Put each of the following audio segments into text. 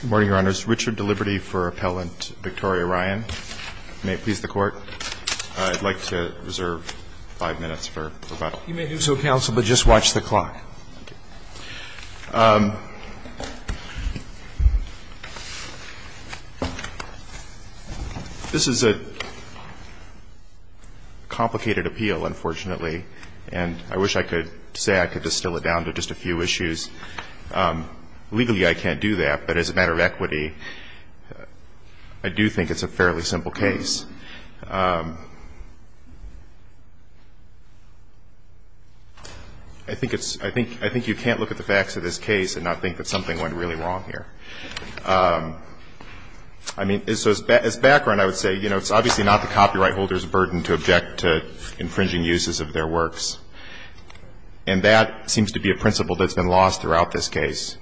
Good morning, Your Honors. Richard Deliberti for Appellant Victoria Ryan. May it please the Court. I'd like to reserve five minutes for rebuttal. You may do so, Counsel, but just watch the clock. Thank you. This is a complicated appeal, unfortunately, and I wish I could say I could distill it down to just a few issues. Legally, I can't do that, but as a matter of equity, I do think it's a fairly simple case. I think it's – I think you can't look at the facts of this case and not think that something went really wrong here. I mean, so as background, I would say, you know, it's obviously not the copyright holders' burden to object to infringing uses of their works. And that seems to be a principle that's been lost throughout this case.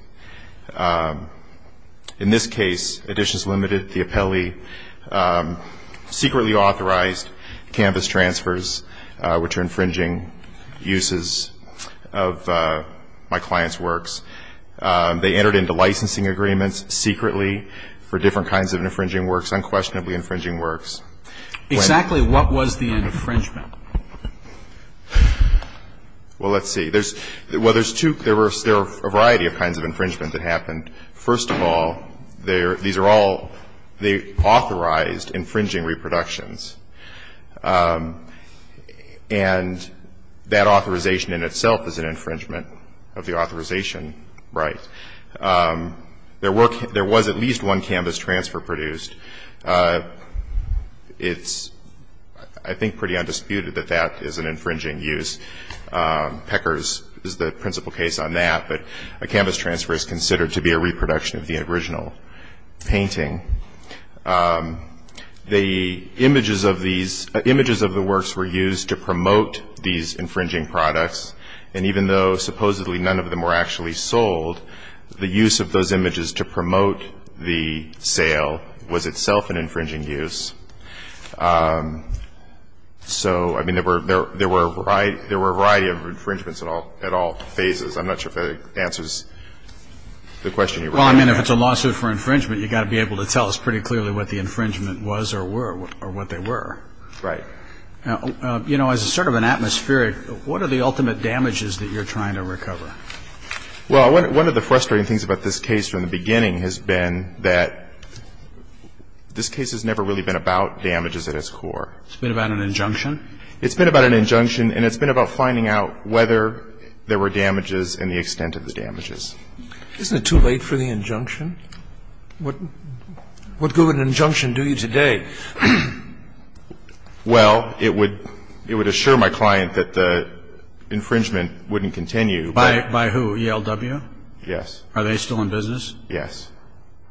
In this case, Editions Limited, the appellee, secretly authorized canvas transfers, which are infringing uses of my client's works. They entered into licensing agreements secretly for different kinds of infringing works, unquestionably infringing works. Exactly what was the infringement? Well, let's see. There's – well, there's two – there are a variety of kinds of infringement that happened. First of all, these are all – they authorized infringing reproductions. And that authorization in itself is an infringement of the authorization right. There were – there was at least one canvas transfer produced. It's, I think, pretty undisputed that that is an infringing use. Peckers is the principal case on that. But a canvas transfer is considered to be a reproduction of the original painting. The images of these – images of the works were used to promote these infringing products. And even though supposedly none of them were actually sold, the use of those images to promote the sale was itself an infringing use. So, I mean, there were a variety of infringements at all phases. I'm not sure if that answers the question you were asking. Well, I mean, if it's a lawsuit for infringement, you've got to be able to tell us pretty clearly what the infringement was or were, or what they were. Right. Now, you know, as a sort of an atmospheric, what are the ultimate damages that you're trying to recover? Well, one of the frustrating things about this case from the beginning has been that this case has never really been about damages at its core. It's been about an injunction? It's been about an injunction, and it's been about finding out whether there were damages and the extent of the damages. Isn't it too late for the injunction? What good would an injunction do you today? Well, it would assure my client that the infringement wouldn't continue. By who? ELW? Yes. Are they still in business? Yes.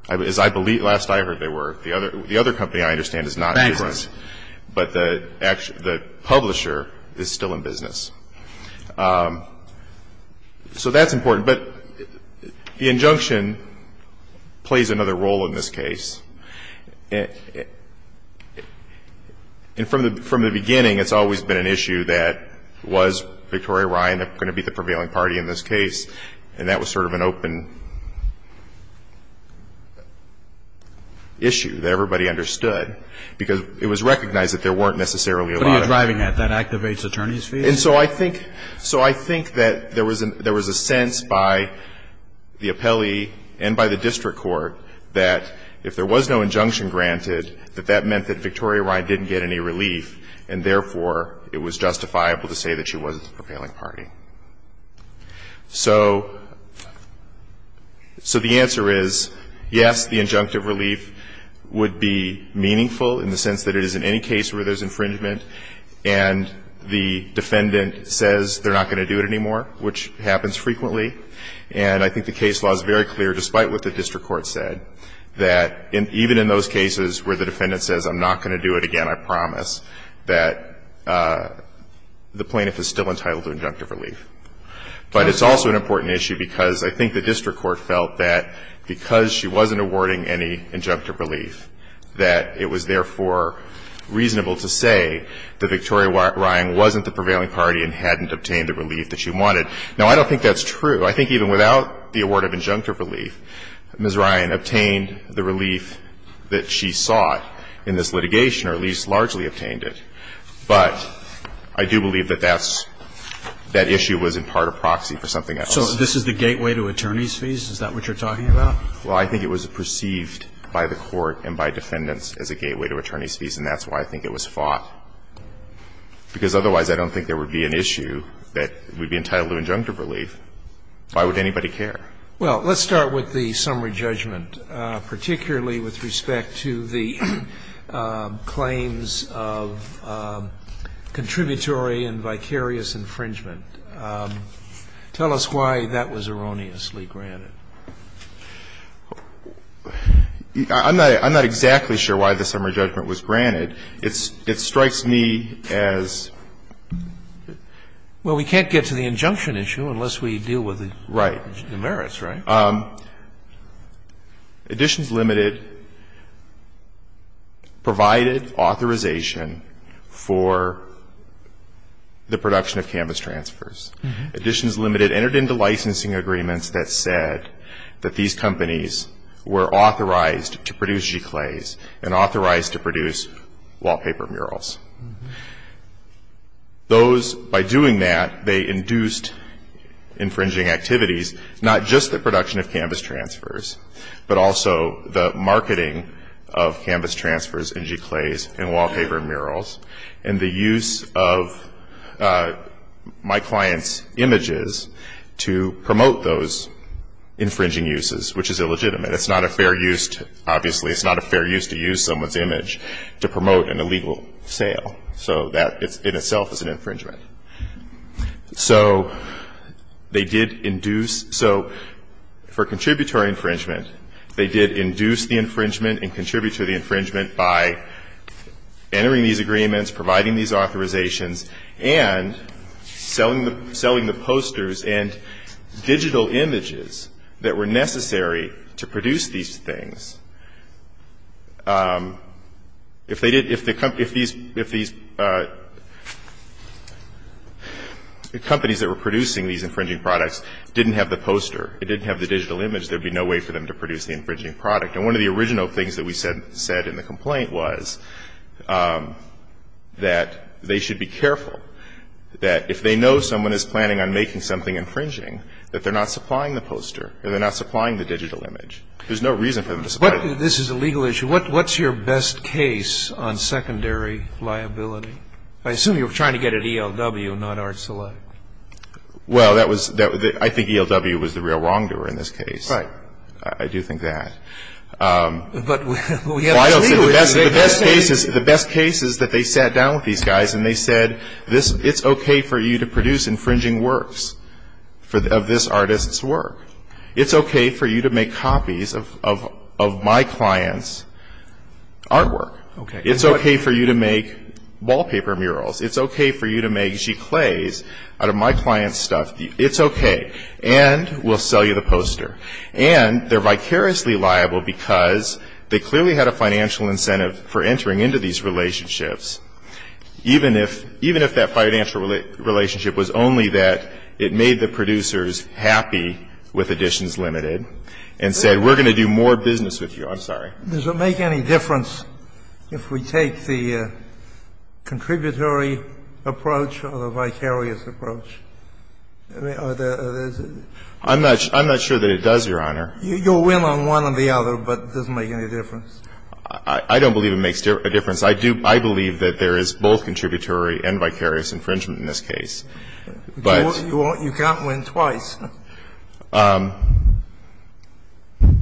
As I believe, last I heard they were. The other company, I understand, is not in business. But the publisher is still in business. So that's important. But the injunction plays another role in this case. And from the beginning, it's always been an issue that was Victoria Ryan going to be the prevailing party in this case, and that was sort of an open issue that everybody understood, because it was recognized that there weren't necessarily a lot of them. What are you driving at? That activates attorney's fees? And so I think that there was a sense by the appellee and by the district court that if there was no injunction granted, that that meant that Victoria Ryan didn't get any relief, and therefore, it was justifiable to say that she wasn't the prevailing party. So the answer is, yes, the injunctive relief would be meaningful in the sense that it is in any case where there's infringement, and the defendant says they're not going to do it anymore, which happens frequently. And I think the case law is very clear, despite what the district court said, that even in those cases where the defendant says, I'm not going to do it again, I promise, that the plaintiff is still entitled to injunctive relief. But it's also an important issue because I think the district court felt that because she wasn't awarding any injunctive relief, that it was, therefore, reasonable to say that Victoria Ryan wasn't the prevailing party and hadn't obtained the relief that she wanted. Now, I don't think that's true. I think even without the award of injunctive relief, Ms. Ryan obtained the relief that she sought in this litigation, or at least largely obtained it. But I do believe that that's that issue was in part a proxy for something else. So this is the gateway to attorney's fees? Is that what you're talking about? Well, I think it was perceived by the Court and by defendants as a gateway to attorney's fees, and that's why I think it was fought. Because otherwise, I don't think there would be an issue that would be entitled to injunctive relief. Why would anybody care? Well, let's start with the summary judgment, particularly with respect to the claims of contributory and vicarious infringement. Tell us why that was erroneously granted. I'm not exactly sure why the summary judgment was granted. It strikes me as... Well, we can't get to the injunction issue unless we deal with the merits, right? Right. Additions Limited provided authorization for the production of canvas transfers. Additions Limited entered into licensing agreements that said that these companies were authorized to produce giclés and authorized to produce wallpaper murals. Those, by doing that, they induced infringing activities, not just the production of canvas transfers, but also the marketing of canvas transfers and giclés and wallpaper murals, and the use of my client's images to promote those infringing uses, which is illegitimate. It's not a fair use to, obviously, it's not a fair use to use someone's image to promote an illegal sale. So that in itself is an infringement. So they did induce, so for contributory infringement, they did induce the infringement and contribute to the infringement by entering these agreements, providing these authorizations, and selling the posters and digital images that were necessary to produce these things. If these companies that were producing these infringing products didn't have the poster, it didn't have the digital image, there'd be no way for them to produce the infringing product. And one of the original things that we said in the complaint was that they should be careful that if they know someone is planning on making something infringing, that they're not supplying the poster and they're not supplying the digital image. There's no reason for them to supply it. This is a legal issue. What's your best case on secondary liability? I assume you're trying to get at ELW, not Art Select. Well, that was the real wrongdoer in this case. Right. I do think that. But we have a legal issue. The best case is that they sat down with these guys and they said, it's okay for you to produce infringing works of this artist's work. It's okay for you to make copies of my client's artwork. Okay. It's okay for you to make wallpaper murals. It's okay for you to make giclés out of my client's stuff. It's okay. And we'll sell you the poster. And they're vicariously liable because they clearly had a financial incentive for entering into these relationships, even if that financial relationship was only that it made the producers happy with editions limited and said, we're going to do more business with you. I'm sorry. Does it make any difference if we take the contributory approach or the vicarious approach? I'm not sure that it does, Your Honor. You'll win on one or the other, but it doesn't make any difference. I don't believe it makes a difference. I believe that there is both contributory and vicarious infringement in this case. But you can't win twice.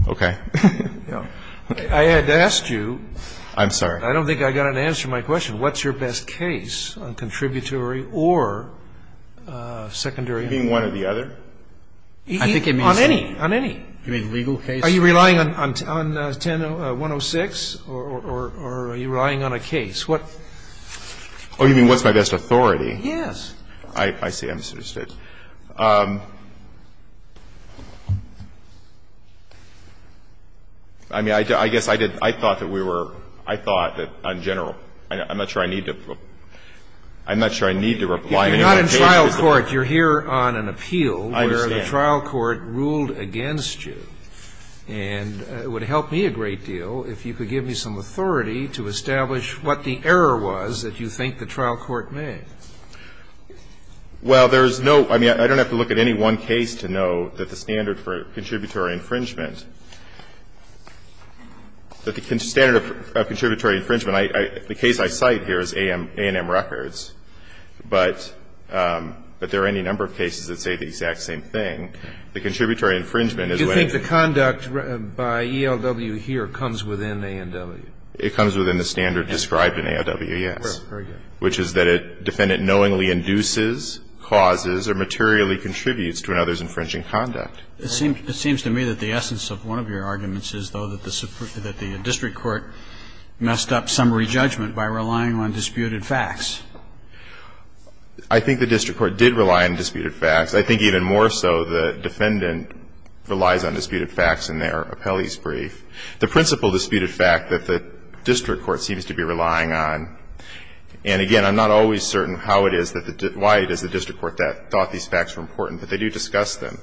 Okay. I had asked you. I don't think I got an answer to my question. What's your best case on contributory or secondary? You mean one or the other? On any. You mean legal case? Are you relying on 10-106? Or are you relying on a case? Oh, you mean what's my best authority? Yes. I see. I'm interested. I mean, I guess I did – I thought that we were – I thought that on general – I'm not sure I need to – I'm not sure I need to reply on any one case. You're not in trial court. You're here on an appeal where the trial court ruled against you. I understand. And it would help me a great deal if you could give me some authority to establish what the error was that you think the trial court made. Well, there's no – I mean, I don't have to look at any one case to know that the standard for contributory infringement – that the standard of contributory infringement – the case I cite here is A&M Records. But there are any number of cases that say the exact same thing. The contributory infringement is when – You think the conduct by ELW here comes within A&W? It comes within the standard described in A&W, yes. Very good. But there are other cases that do not come within the standard. And the reason for that is, I think, in the case of the defendant, which is that a defendant knowingly induces, causes, or materially contributes to another's infringing conduct. It seems to me that the essence of one of your arguments is, though, that the district court messed up summary judgment by relying on disputed facts. I think the district court did rely on disputed facts. I think even more so the defendant relies on disputed facts in their appellee's brief. The principle disputed fact that the district court seems to be relying on – and, again, I'm not always certain how it is that the – why it is the district court thought these facts were important, but they do discuss them.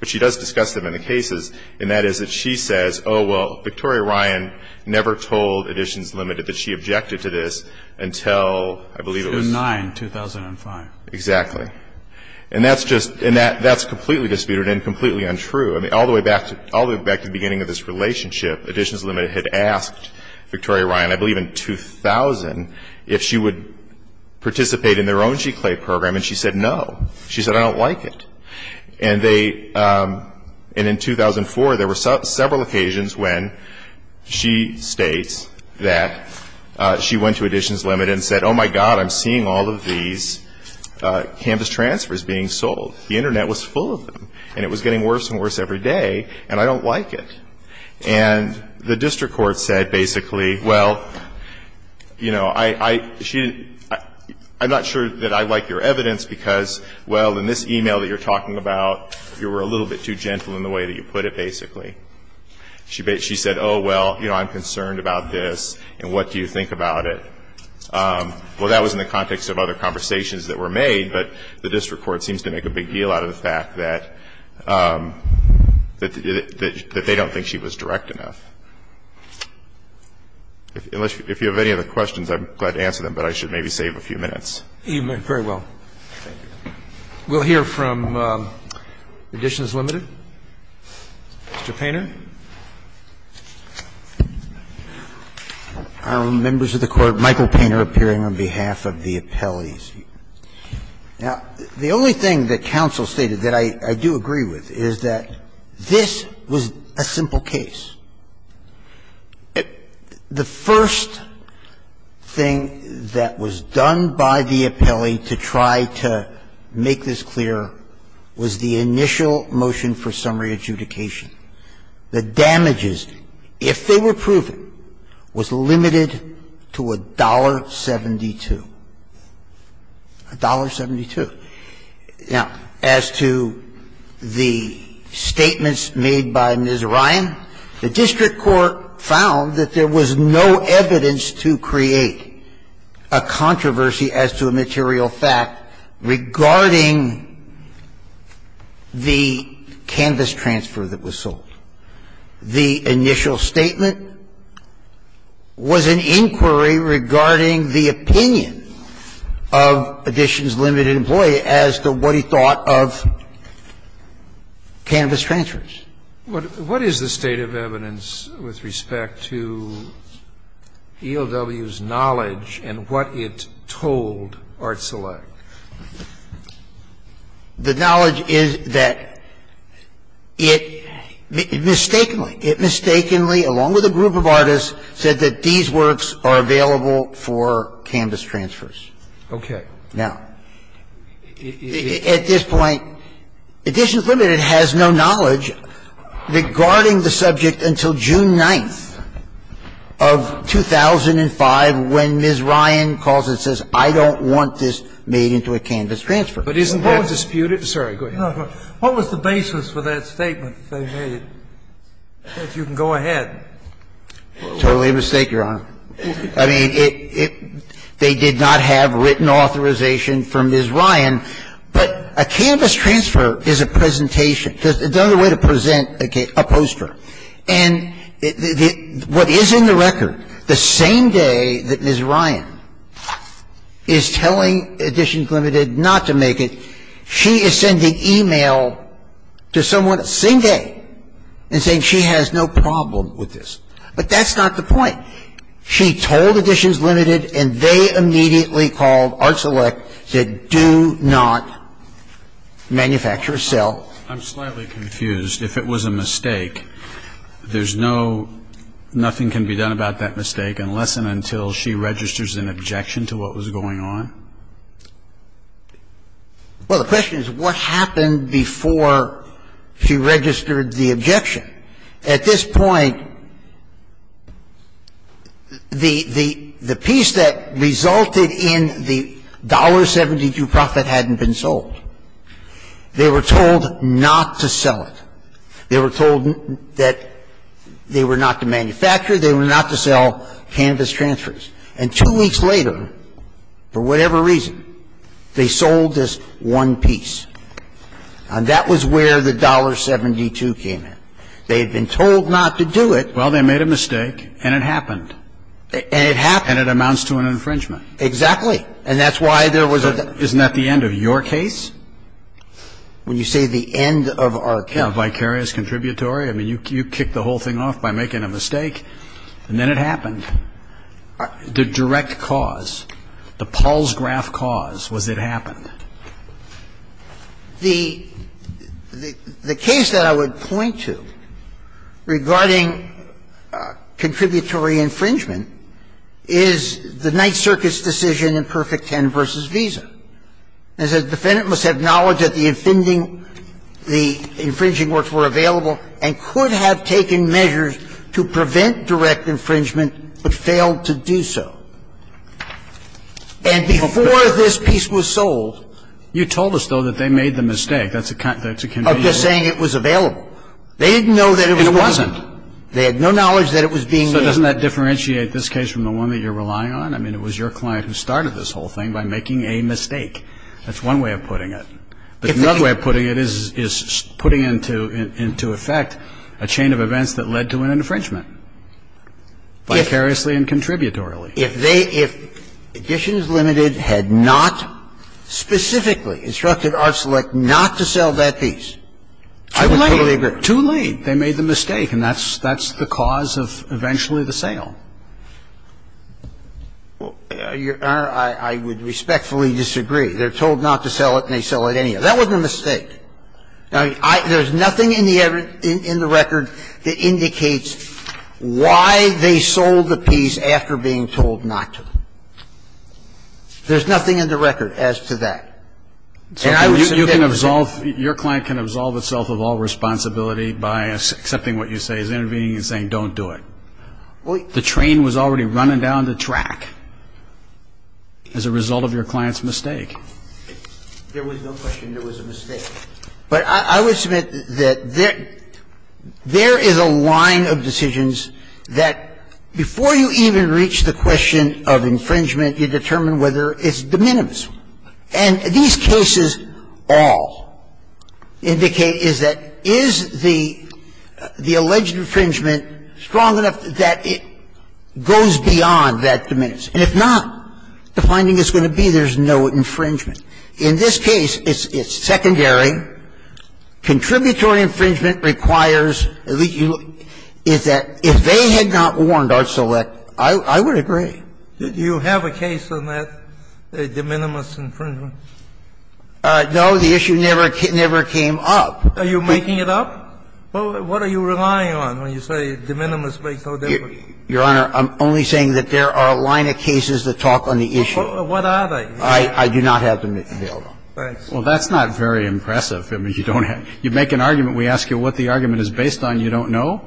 But she does discuss them in the cases, and that is that she says, oh, well, Victoria Ryan never told Editions Limited that she objected to this until, I believe, it was – In 2009, 2005. Exactly. And that's just – and that's completely disputed and completely untrue. I mean, all the way back to the beginning of this relationship, Editions Limited had asked Victoria Ryan, I believe in 2000, if she would participate in their own GCLEI program, and she said no. She said, I don't like it. And they – and in 2004, there were several occasions when she states that she went to Editions Limited and said, oh, my God, I'm seeing all of these Canvas transfers being sold. The Internet was full of them, and it was getting worse and worse every day, and I don't like it. And the district court said, basically, well, you know, I – she – I'm not sure that I like your evidence because, well, in this e-mail that you're talking about, you were a little bit too gentle in the way that you put it, basically. She said, oh, well, you know, I'm concerned about this, and what do you think about it? Well, that was in the context of other conversations that were made, but the district court seems to make a big deal out of the fact that they don't think she was direct enough. If you have any other questions, I'm glad to answer them, but I should maybe save a few minutes. Very well. We'll hear from Editions Limited. Mr. Painter. Members of the Court, Michael Painter appearing on behalf of the appellees. Now, the only thing that counsel stated that I do agree with is that this was a simple case. The first thing that was done by the appellee to try to make this clear was the initial motion for summary adjudication. The damages, if they were proven, was limited to $1.72. $1.72. Now, as to the statements made by Ms. Ryan, the district court found that there was no evidence to create a controversy as to a material fact regarding the canvas transfer that was sold. The initial statement was an inquiry regarding the opinion of Editions Limited employee as to what he thought of canvas transfers. transfers. What is the state of evidence with respect to ELW's knowledge and what it told Art Select? The knowledge is that it mistakenly, it mistakenly, along with a group of artists, said that these works are available for canvas transfers. Okay. Now, at this point, Editions Limited has no knowledge regarding the subject until June 9th of 2005 when Ms. Ryan calls and says, I don't want this made into a canvas transfer. But isn't that disputed? Sorry, go ahead. What was the basis for that statement that they made? If you can go ahead. Totally a mistake, Your Honor. I mean, it they did not have written authorization from Ms. Ryan, but a canvas transfer is a presentation. It's another way to present a poster. And what is in the record, the same day that Ms. Ryan is telling Editions Limited not to make it, she is sending e-mail to someone the same day and saying she has no problem with this. But that's not the point. She told Editions Limited and they immediately called Art Select, said do not manufacture or sell. I'm slightly confused. If it was a mistake, there's no, nothing can be done about that mistake unless and until she registers an objection to what was going on? Well, the question is what happened before she registered the objection? At this point, the piece that resulted in the $1.72 profit hadn't been sold. They were told not to sell it. They were told that they were not to manufacture, they were not to sell canvas transfers. And two weeks later, for whatever reason, they sold this one piece. And that was where the $1.72 came in. They had been told not to do it. Well, they made a mistake and it happened. And it happened. And it amounts to an infringement. Exactly. And that's why there was a ---- Isn't that the end of your case? When you say the end of our case? A vicarious contributory? I mean, you kicked the whole thing off by making a mistake and then it happened. The direct cause, the Paul's graph cause was it happened. The case that I would point to regarding contributory infringement is the Ninth Circuit's decision in Perfect Ten v. Visa. It says the defendant must have knowledge that the offending ---- the infringing works were available and could have taken measures to prevent direct infringement but failed to do so. And before this piece was sold ---- You told us, though, that they made the mistake. That's a convenient ---- Of just saying it was available. They didn't know that it was available. It wasn't. They had no knowledge that it was being made. So doesn't that differentiate this case from the one that you're relying on? I mean, it was your client who started this whole thing by making a mistake. That's one way of putting it. The other way of putting it is putting into effect a chain of events that led to an infringement, vicariously and contributorily. If they ---- if Additions Limited had not specifically instructed Art Select not to sell that piece, I would totally agree. Too late. They made the mistake. And that's the cause of eventually the sale. Well, Your Honor, I would respectfully disagree. They're told not to sell it, and they sell it anyway. That wasn't a mistake. Now, I ---- there's nothing in the record that indicates why they sold the piece after being told not to. There's nothing in the record as to that. And I would say that ---- So you can absolve ---- your client can absolve itself of all responsibility by accepting what you say, is intervening and saying, don't do it. Well, you ---- There was no question there was a mistake. But I would submit that there is a line of decisions that before you even reach the question of infringement, you determine whether it's de minimis. And these cases all indicate is that is the alleged infringement strong enough that it goes beyond that de minimis? And if not, the finding is going to be there's no infringement. In this case, it's secondary. Contributory infringement requires ---- is that if they had not warned our select, I would agree. Do you have a case on that de minimis infringement? No. The issue never came up. Are you making it up? What are you relying on when you say de minimis makes no difference? Your Honor, I'm only saying that there are a line of cases that talk on the issue. What are they? I do not have them available. Well, that's not very impressive. I mean, you don't have ---- you make an argument, we ask you what the argument is based on, you don't know?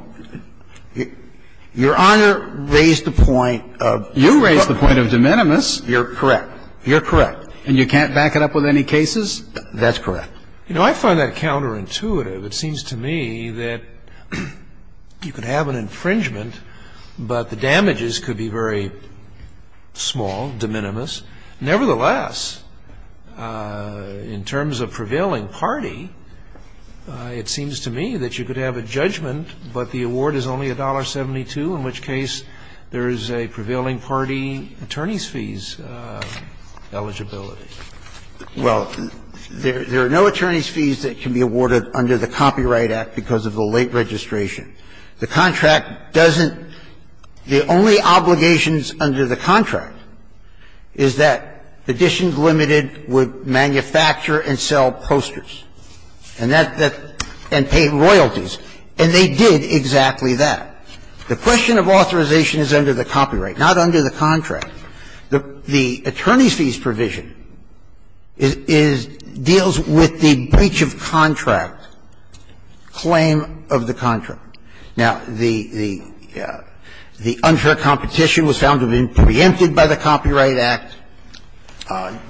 Your Honor raised the point of ---- You raised the point of de minimis. You're correct. You're correct. And you can't back it up with any cases? That's correct. You know, I find that counterintuitive. It seems to me that you could have an infringement, but the damages could be very small, de minimis. Nevertheless, in terms of prevailing party, it seems to me that you could have a judgment, but the award is only $1.72, in which case there is a prevailing party attorney's fees eligibility. Well, there are no attorney's fees that can be awarded under the Copyright Act because of the late registration. The contract doesn't ---- the only obligations under the contract is that Editions Limited would manufacture and sell posters and that ---- and pay royalties. And they did exactly that. The question of authorization is under the copyright, not under the contract. The attorney's fees provision is ---- deals with the breach of contract, claim of the contract. Now, the unfair competition was found to have been preempted by the Copyright Act.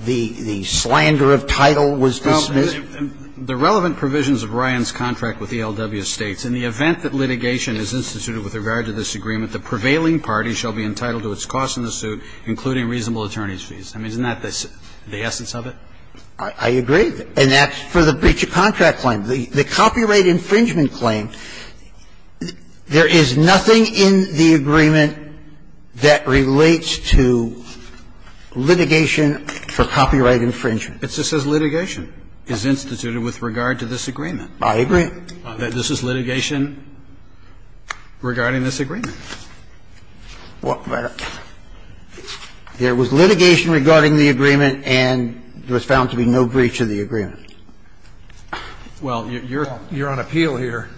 The slander of title was dismissed. Well, the relevant provisions of Ryan's contract with ELW states, In the event that litigation is instituted with regard to this agreement, the prevailing party shall be entitled to its costs in the suit, including reasonable attorney's fees. I mean, isn't that the essence of it? I agree. And that's for the breach of contract claim. The copyright infringement claim, there is nothing in the agreement that relates to litigation for copyright infringement. It just says litigation is instituted with regard to this agreement. I agree. This is litigation regarding this agreement. There was litigation regarding the agreement, and there was found to be no breach of the agreement. Well, you're on appeal here.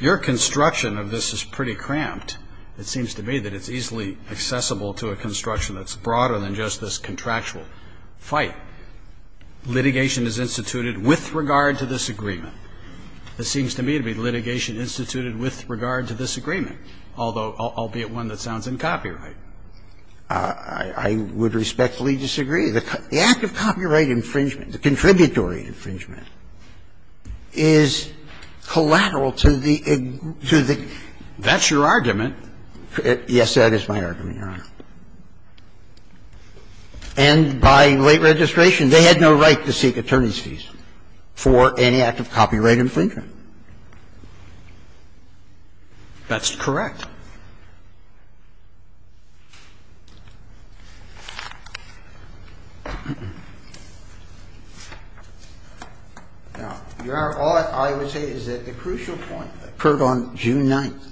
Your construction of this is pretty cramped. It seems to me that it's easily accessible to a construction that's broader than just this contractual fight. Litigation is instituted with regard to this agreement. This seems to me to be litigation instituted with regard to this agreement, albeit one that sounds in copyright. I would respectfully disagree. The act of copyright infringement, the contributory infringement, is collateral to the agreement. That's your argument. Yes, that is my argument, Your Honor. And by late registration, they had no right to seek attorney's fees for any act of copyright infringement. That's correct. Now, Your Honor, all I would say is that the crucial point occurred on June 9th,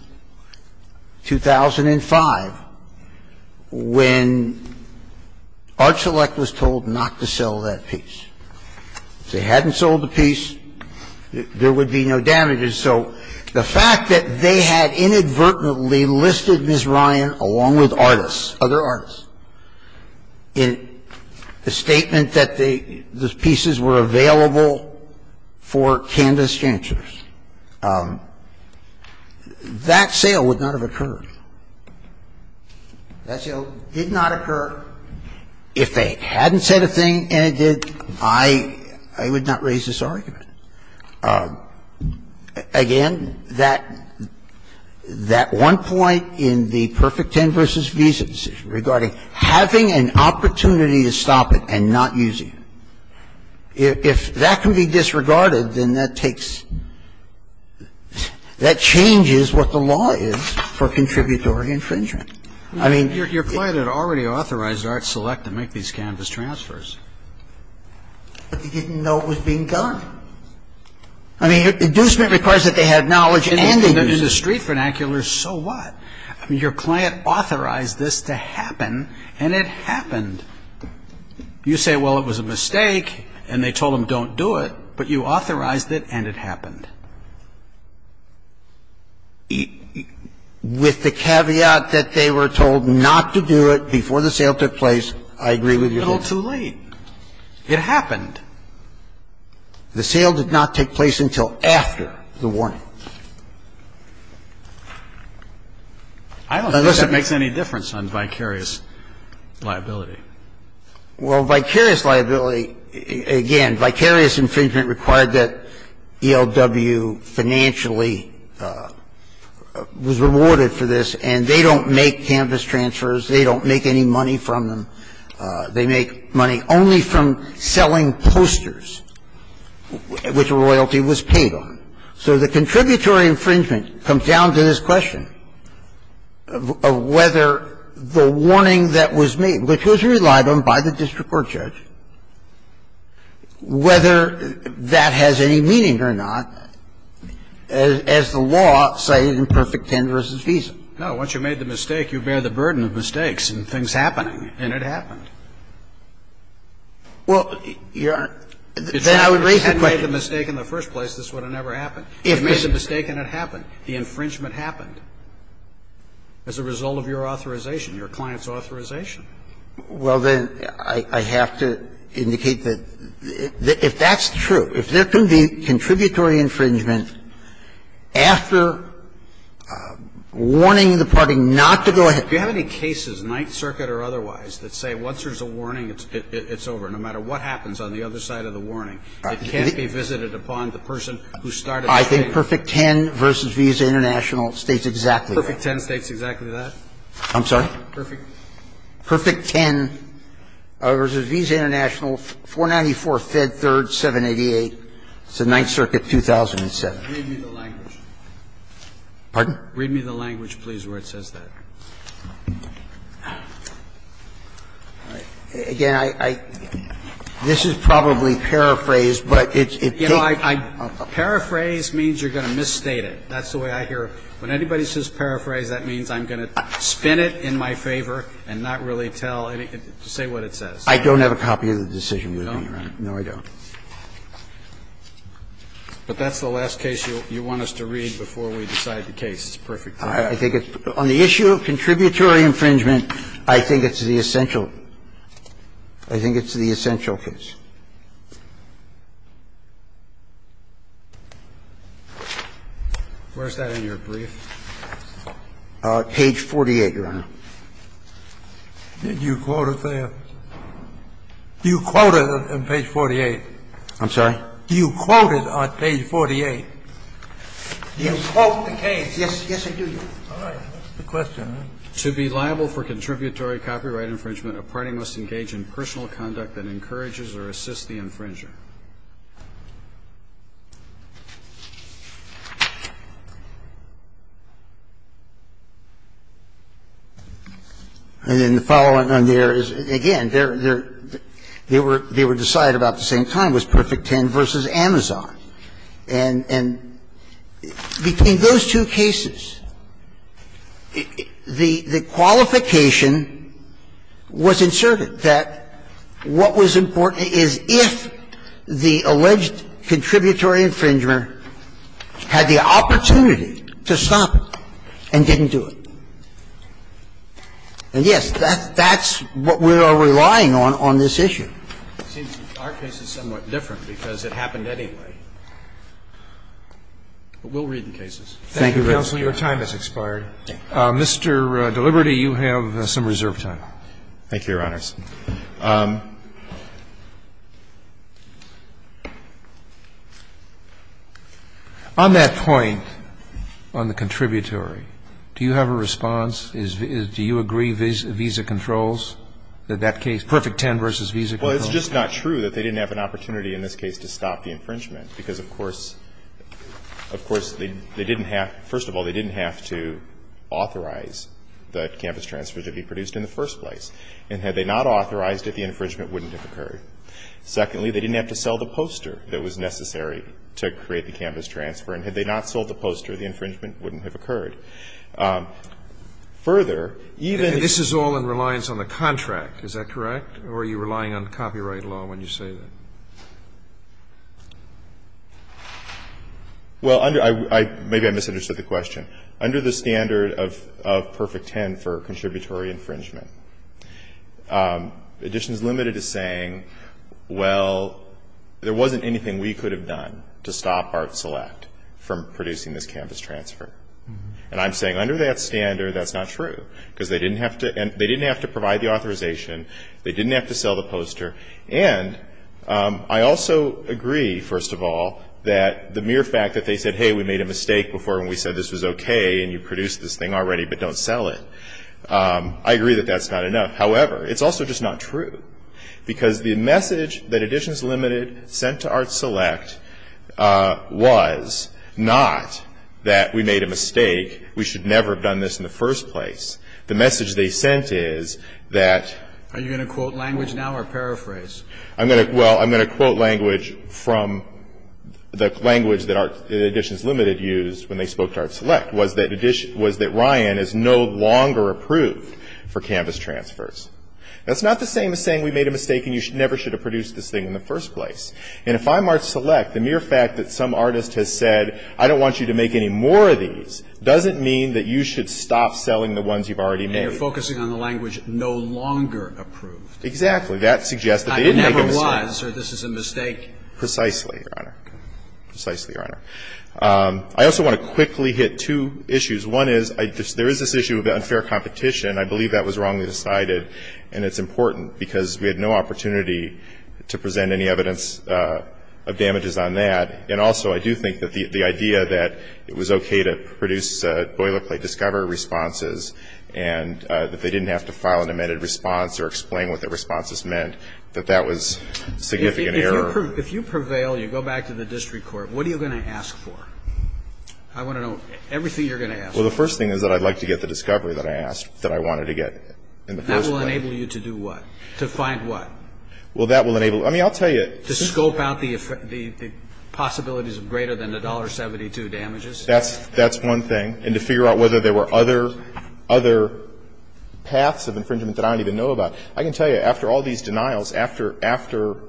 2005, when Art Select was told not to sell that piece. If they hadn't sold the piece, there would be no damages. So the fact that they had inadvertently listed Ms. Ryan, along with artists, other artists, in the statement that the pieces were available for Candace Janters, that sale would not have occurred. That sale did not occur if they hadn't said a thing and it did. I would not raise this argument. Again, that one point in the Perfect Ten versus Visa decision regarding having an opportunity to stop it and not using it, if that can be disregarded, then that takes – that changes what the law is for contributory infringement. I mean, if you're going to do that, you're going to have to do it. But they didn't know it was being done. I mean, inducement requires that they have knowledge and they use it. In the street vernacular, so what? I mean, your client authorized this to happen, and it happened. You say, well, it was a mistake, and they told them don't do it, but you authorized it, and it happened. With the caveat that they were told not to do it before the sale took place, I agree with your point. A little too late. It happened. The sale did not take place until after the warning. I don't think that makes any difference on vicarious liability. Well, vicarious liability, again, vicarious infringement required that ELW financially was rewarded for this, and they don't make campus transfers. They don't make any money from them. They make money only from selling posters, which a royalty was paid on. So the contributory infringement comes down to this question of whether the warning that was made, which was relied on by the district court judge, whether that has any meaning or not as the law cited in Perfect Ten v. Visa. Well, I think the answer to that is no. Once you made the mistake, you bear the burden of mistakes and things happening, and it happened. Well, your question. If you had made the mistake in the first place, this would have never happened. If you made the mistake and it happened, the infringement happened as a result of your authorization, your client's authorization. Well, then I have to indicate that if that's true, if there can be contributory infringement after warning the party not to go ahead. Do you have any cases, Ninth Circuit or otherwise, that say once there's a warning, it's over, no matter what happens on the other side of the warning? It can't be visited upon the person who started the change. I think Perfect Ten versus Visa International states exactly that. Perfect Ten states exactly that? I'm sorry? Perfect Ten versus Visa International, 494 Fed 3rd, 788. It's a Ninth Circuit 2007. Read me the language. Pardon? Read me the language, please, where it says that. Again, I – this is probably paraphrased, but it's a case of a paraphrase. Paraphrase means you're going to misstate it. That's the way I hear it. When anybody says paraphrase, that means I'm going to spin it in my favor and not really tell, say what it says. I don't have a copy of the decision. You don't, right? No, I don't. But that's the last case you want us to read before we decide the case. It's Perfect Ten. I think it's – on the issue of contributory infringement, I think it's the essential – I think it's the essential case. Where's that in your brief? Page 48, Your Honor. Did you quote it there? You quote it on page 48. I'm sorry? You quote it on page 48. You quote the case. Yes, I do, Your Honor. All right. Good question. To be liable for contributory copyright infringement, a party must engage in personal conduct that encourages or assists the infringer. And then the following on there is, again, they're – they were – they were decided on the same time, was Perfect Ten v. Amazon. And between those two cases, the qualification was inserted that what was important is if the alleged contributory infringement had the opportunity to stop it and didn't do it. And, yes, that's what we are relying on on this issue. It seems our case is somewhat different because it happened anyway. But we'll read the cases. Thank you, counsel. Your time has expired. Mr. Deliberty, you have some reserve time. Thank you, Your Honors. On that point, on the contributory, do you have a response? Do you agree visa controls, that that case, Perfect Ten v. Visa Controls? Well, it's just not true that they didn't have an opportunity in this case to stop the infringement because, of course – of course, they didn't have – first of all, they didn't have to authorize the canvas transfer to be produced in the first place. And had they not authorized it, the infringement wouldn't have occurred. Secondly, they didn't have to sell the poster that was necessary to create the canvas transfer. And had they not sold the poster, the infringement wouldn't have occurred. Further, even – This is all in reliance on the contract. Is that correct? Or are you relying on copyright law when you say that? Well, under – I – maybe I misunderstood the question. Under the standard of Perfect Ten for contributory infringement, Additions Limited is saying, well, there wasn't anything we could have done to stop Art Select from producing this canvas transfer. And I'm saying under that standard, that's not true because they didn't have to – and they didn't have to sell the poster. And I also agree, first of all, that the mere fact that they said, hey, we made a mistake before when we said this was okay and you produced this thing already, but don't sell it – I agree that that's not enough. However, it's also just not true because the message that Additions Limited sent to Art Select was not that we made a mistake, we should never have done this in the first place. The message they sent is that – Are you going to quote language now or paraphrase? I'm going to – well, I'm going to quote language from the language that Additions Limited used when they spoke to Art Select, was that Ryan is no longer approved for canvas transfers. That's not the same as saying we made a mistake and you never should have produced this thing in the first place. And if I'm Art Select, the mere fact that some artist has said, I don't want you to make any more of these, doesn't mean that you should stop selling the ones you've already made. And you're focusing on the language no longer approved. Exactly. That suggests that they didn't make a mistake. I never was, or this is a mistake. Precisely, Your Honor. Precisely, Your Honor. I also want to quickly hit two issues. One is there is this issue of unfair competition. I believe that was wrongly decided, and it's important because we had no opportunity to present any evidence of damages on that. And also, I do think that the idea that it was okay to produce boilerplate discovery responses and that they didn't have to file an amended response or explain what the responses meant, that that was significant error. If you prevail, you go back to the district court, what are you going to ask for? I want to know everything you're going to ask. Well, the first thing is that I'd like to get the discovery that I asked, that I wanted to get in the first place. And that will enable you to do what? To find what? Well, that will enable, I mean, I'll tell you. To scope out the possibilities of greater than $1.72 damages? That's one thing. And to figure out whether there were other paths of infringement that I don't even know about. I can tell you, after all these denials, after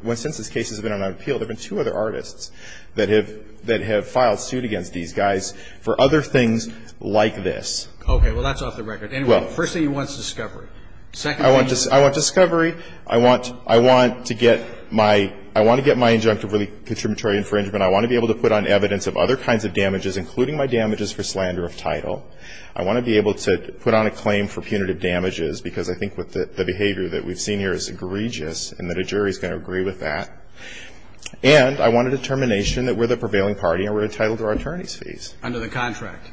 when since this case has been on appeal, there have been two other artists that have filed suit against these guys for other things like this. Okay. Well, that's off the record. Anyway, the first thing you want is discovery. Second thing you want is discovery. I want discovery. I want to get my injunctive really contributory infringement. I want to be able to put on evidence of other kinds of damages, including my damages for slander of title. I want to be able to put on a claim for punitive damages, because I think the behavior that we've seen here is egregious and that a jury is going to agree with that. And I want a determination that we're the prevailing party and we're entitled to our attorney's fees. Under the contract?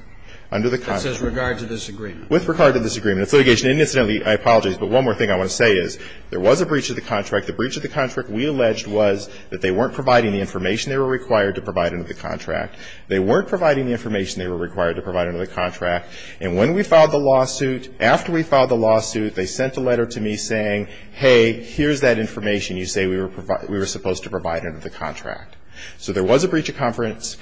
Under the contract. That's with regard to this agreement? With regard to this agreement. It's litigation. And incidentally, I apologize, but one more thing I want to say is there was a breach of the contract. The breach of the contract, we alleged, was that they weren't providing the information they were required to provide under the contract. They weren't providing the information they were required to provide under the contract. And when we filed the lawsuit, after we filed the lawsuit, they sent a letter to me saying, hey, here's that information you say we were supposed to provide under the contract. So there was a breach of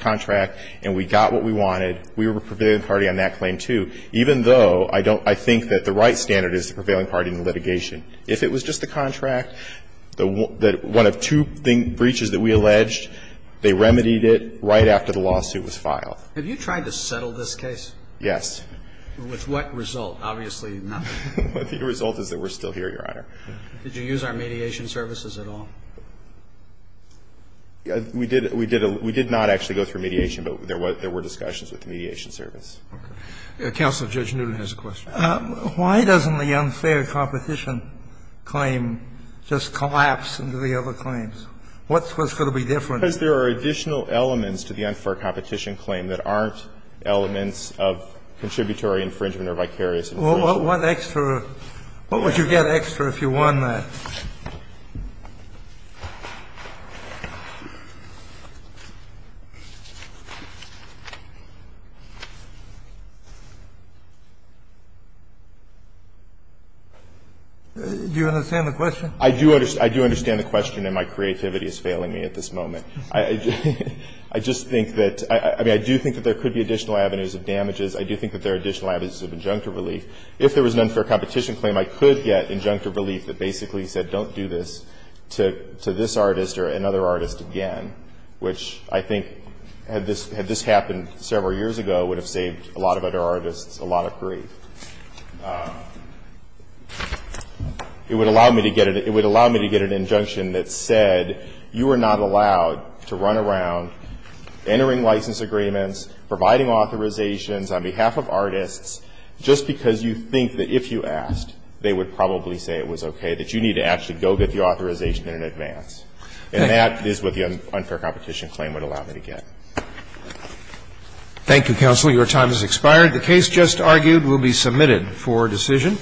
contract and we got what we wanted. We were the prevailing party on that claim, too, even though I think that the right standard is the prevailing party in litigation. If it was just the contract, one of two breaches that we alleged, they remedied it right after the lawsuit was filed. Have you tried to settle this case? Yes. With what result? Obviously not. The result is that we're still here, Your Honor. Did you use our mediation services at all? We did not actually go through mediation, but there were discussions with the mediation service. Counsel Judge Newton has a question. Why doesn't the unfair competition claim just collapse into the other claims? What's going to be different? Because there are additional elements to the unfair competition claim that aren't elements of contributory infringement or vicarious infringement. What would you get extra if you won that? Do you understand the question? I do understand the question, and my creativity is failing me at this moment. I just think that – I mean, I do think that there could be additional avenues of damages. I do think that there are additional avenues of injunctive relief. If there was an unfair competition claim, I could get injunctive relief that basically said don't do this to this artist or another artist again, which I think, had this happened several years ago, would have saved a lot of other artists a lot of grief. It would allow me to get an – it would allow me to get an injunction that said you are not allowed to run around entering license agreements, providing authorizations on behalf of artists, just because you think that if you asked, they would probably say it was okay, that you need to actually go get the authorization in advance. And that is what the unfair competition claim would allow me to get. Thank you, counsel. Your time has expired. The case just argued will be submitted for decision.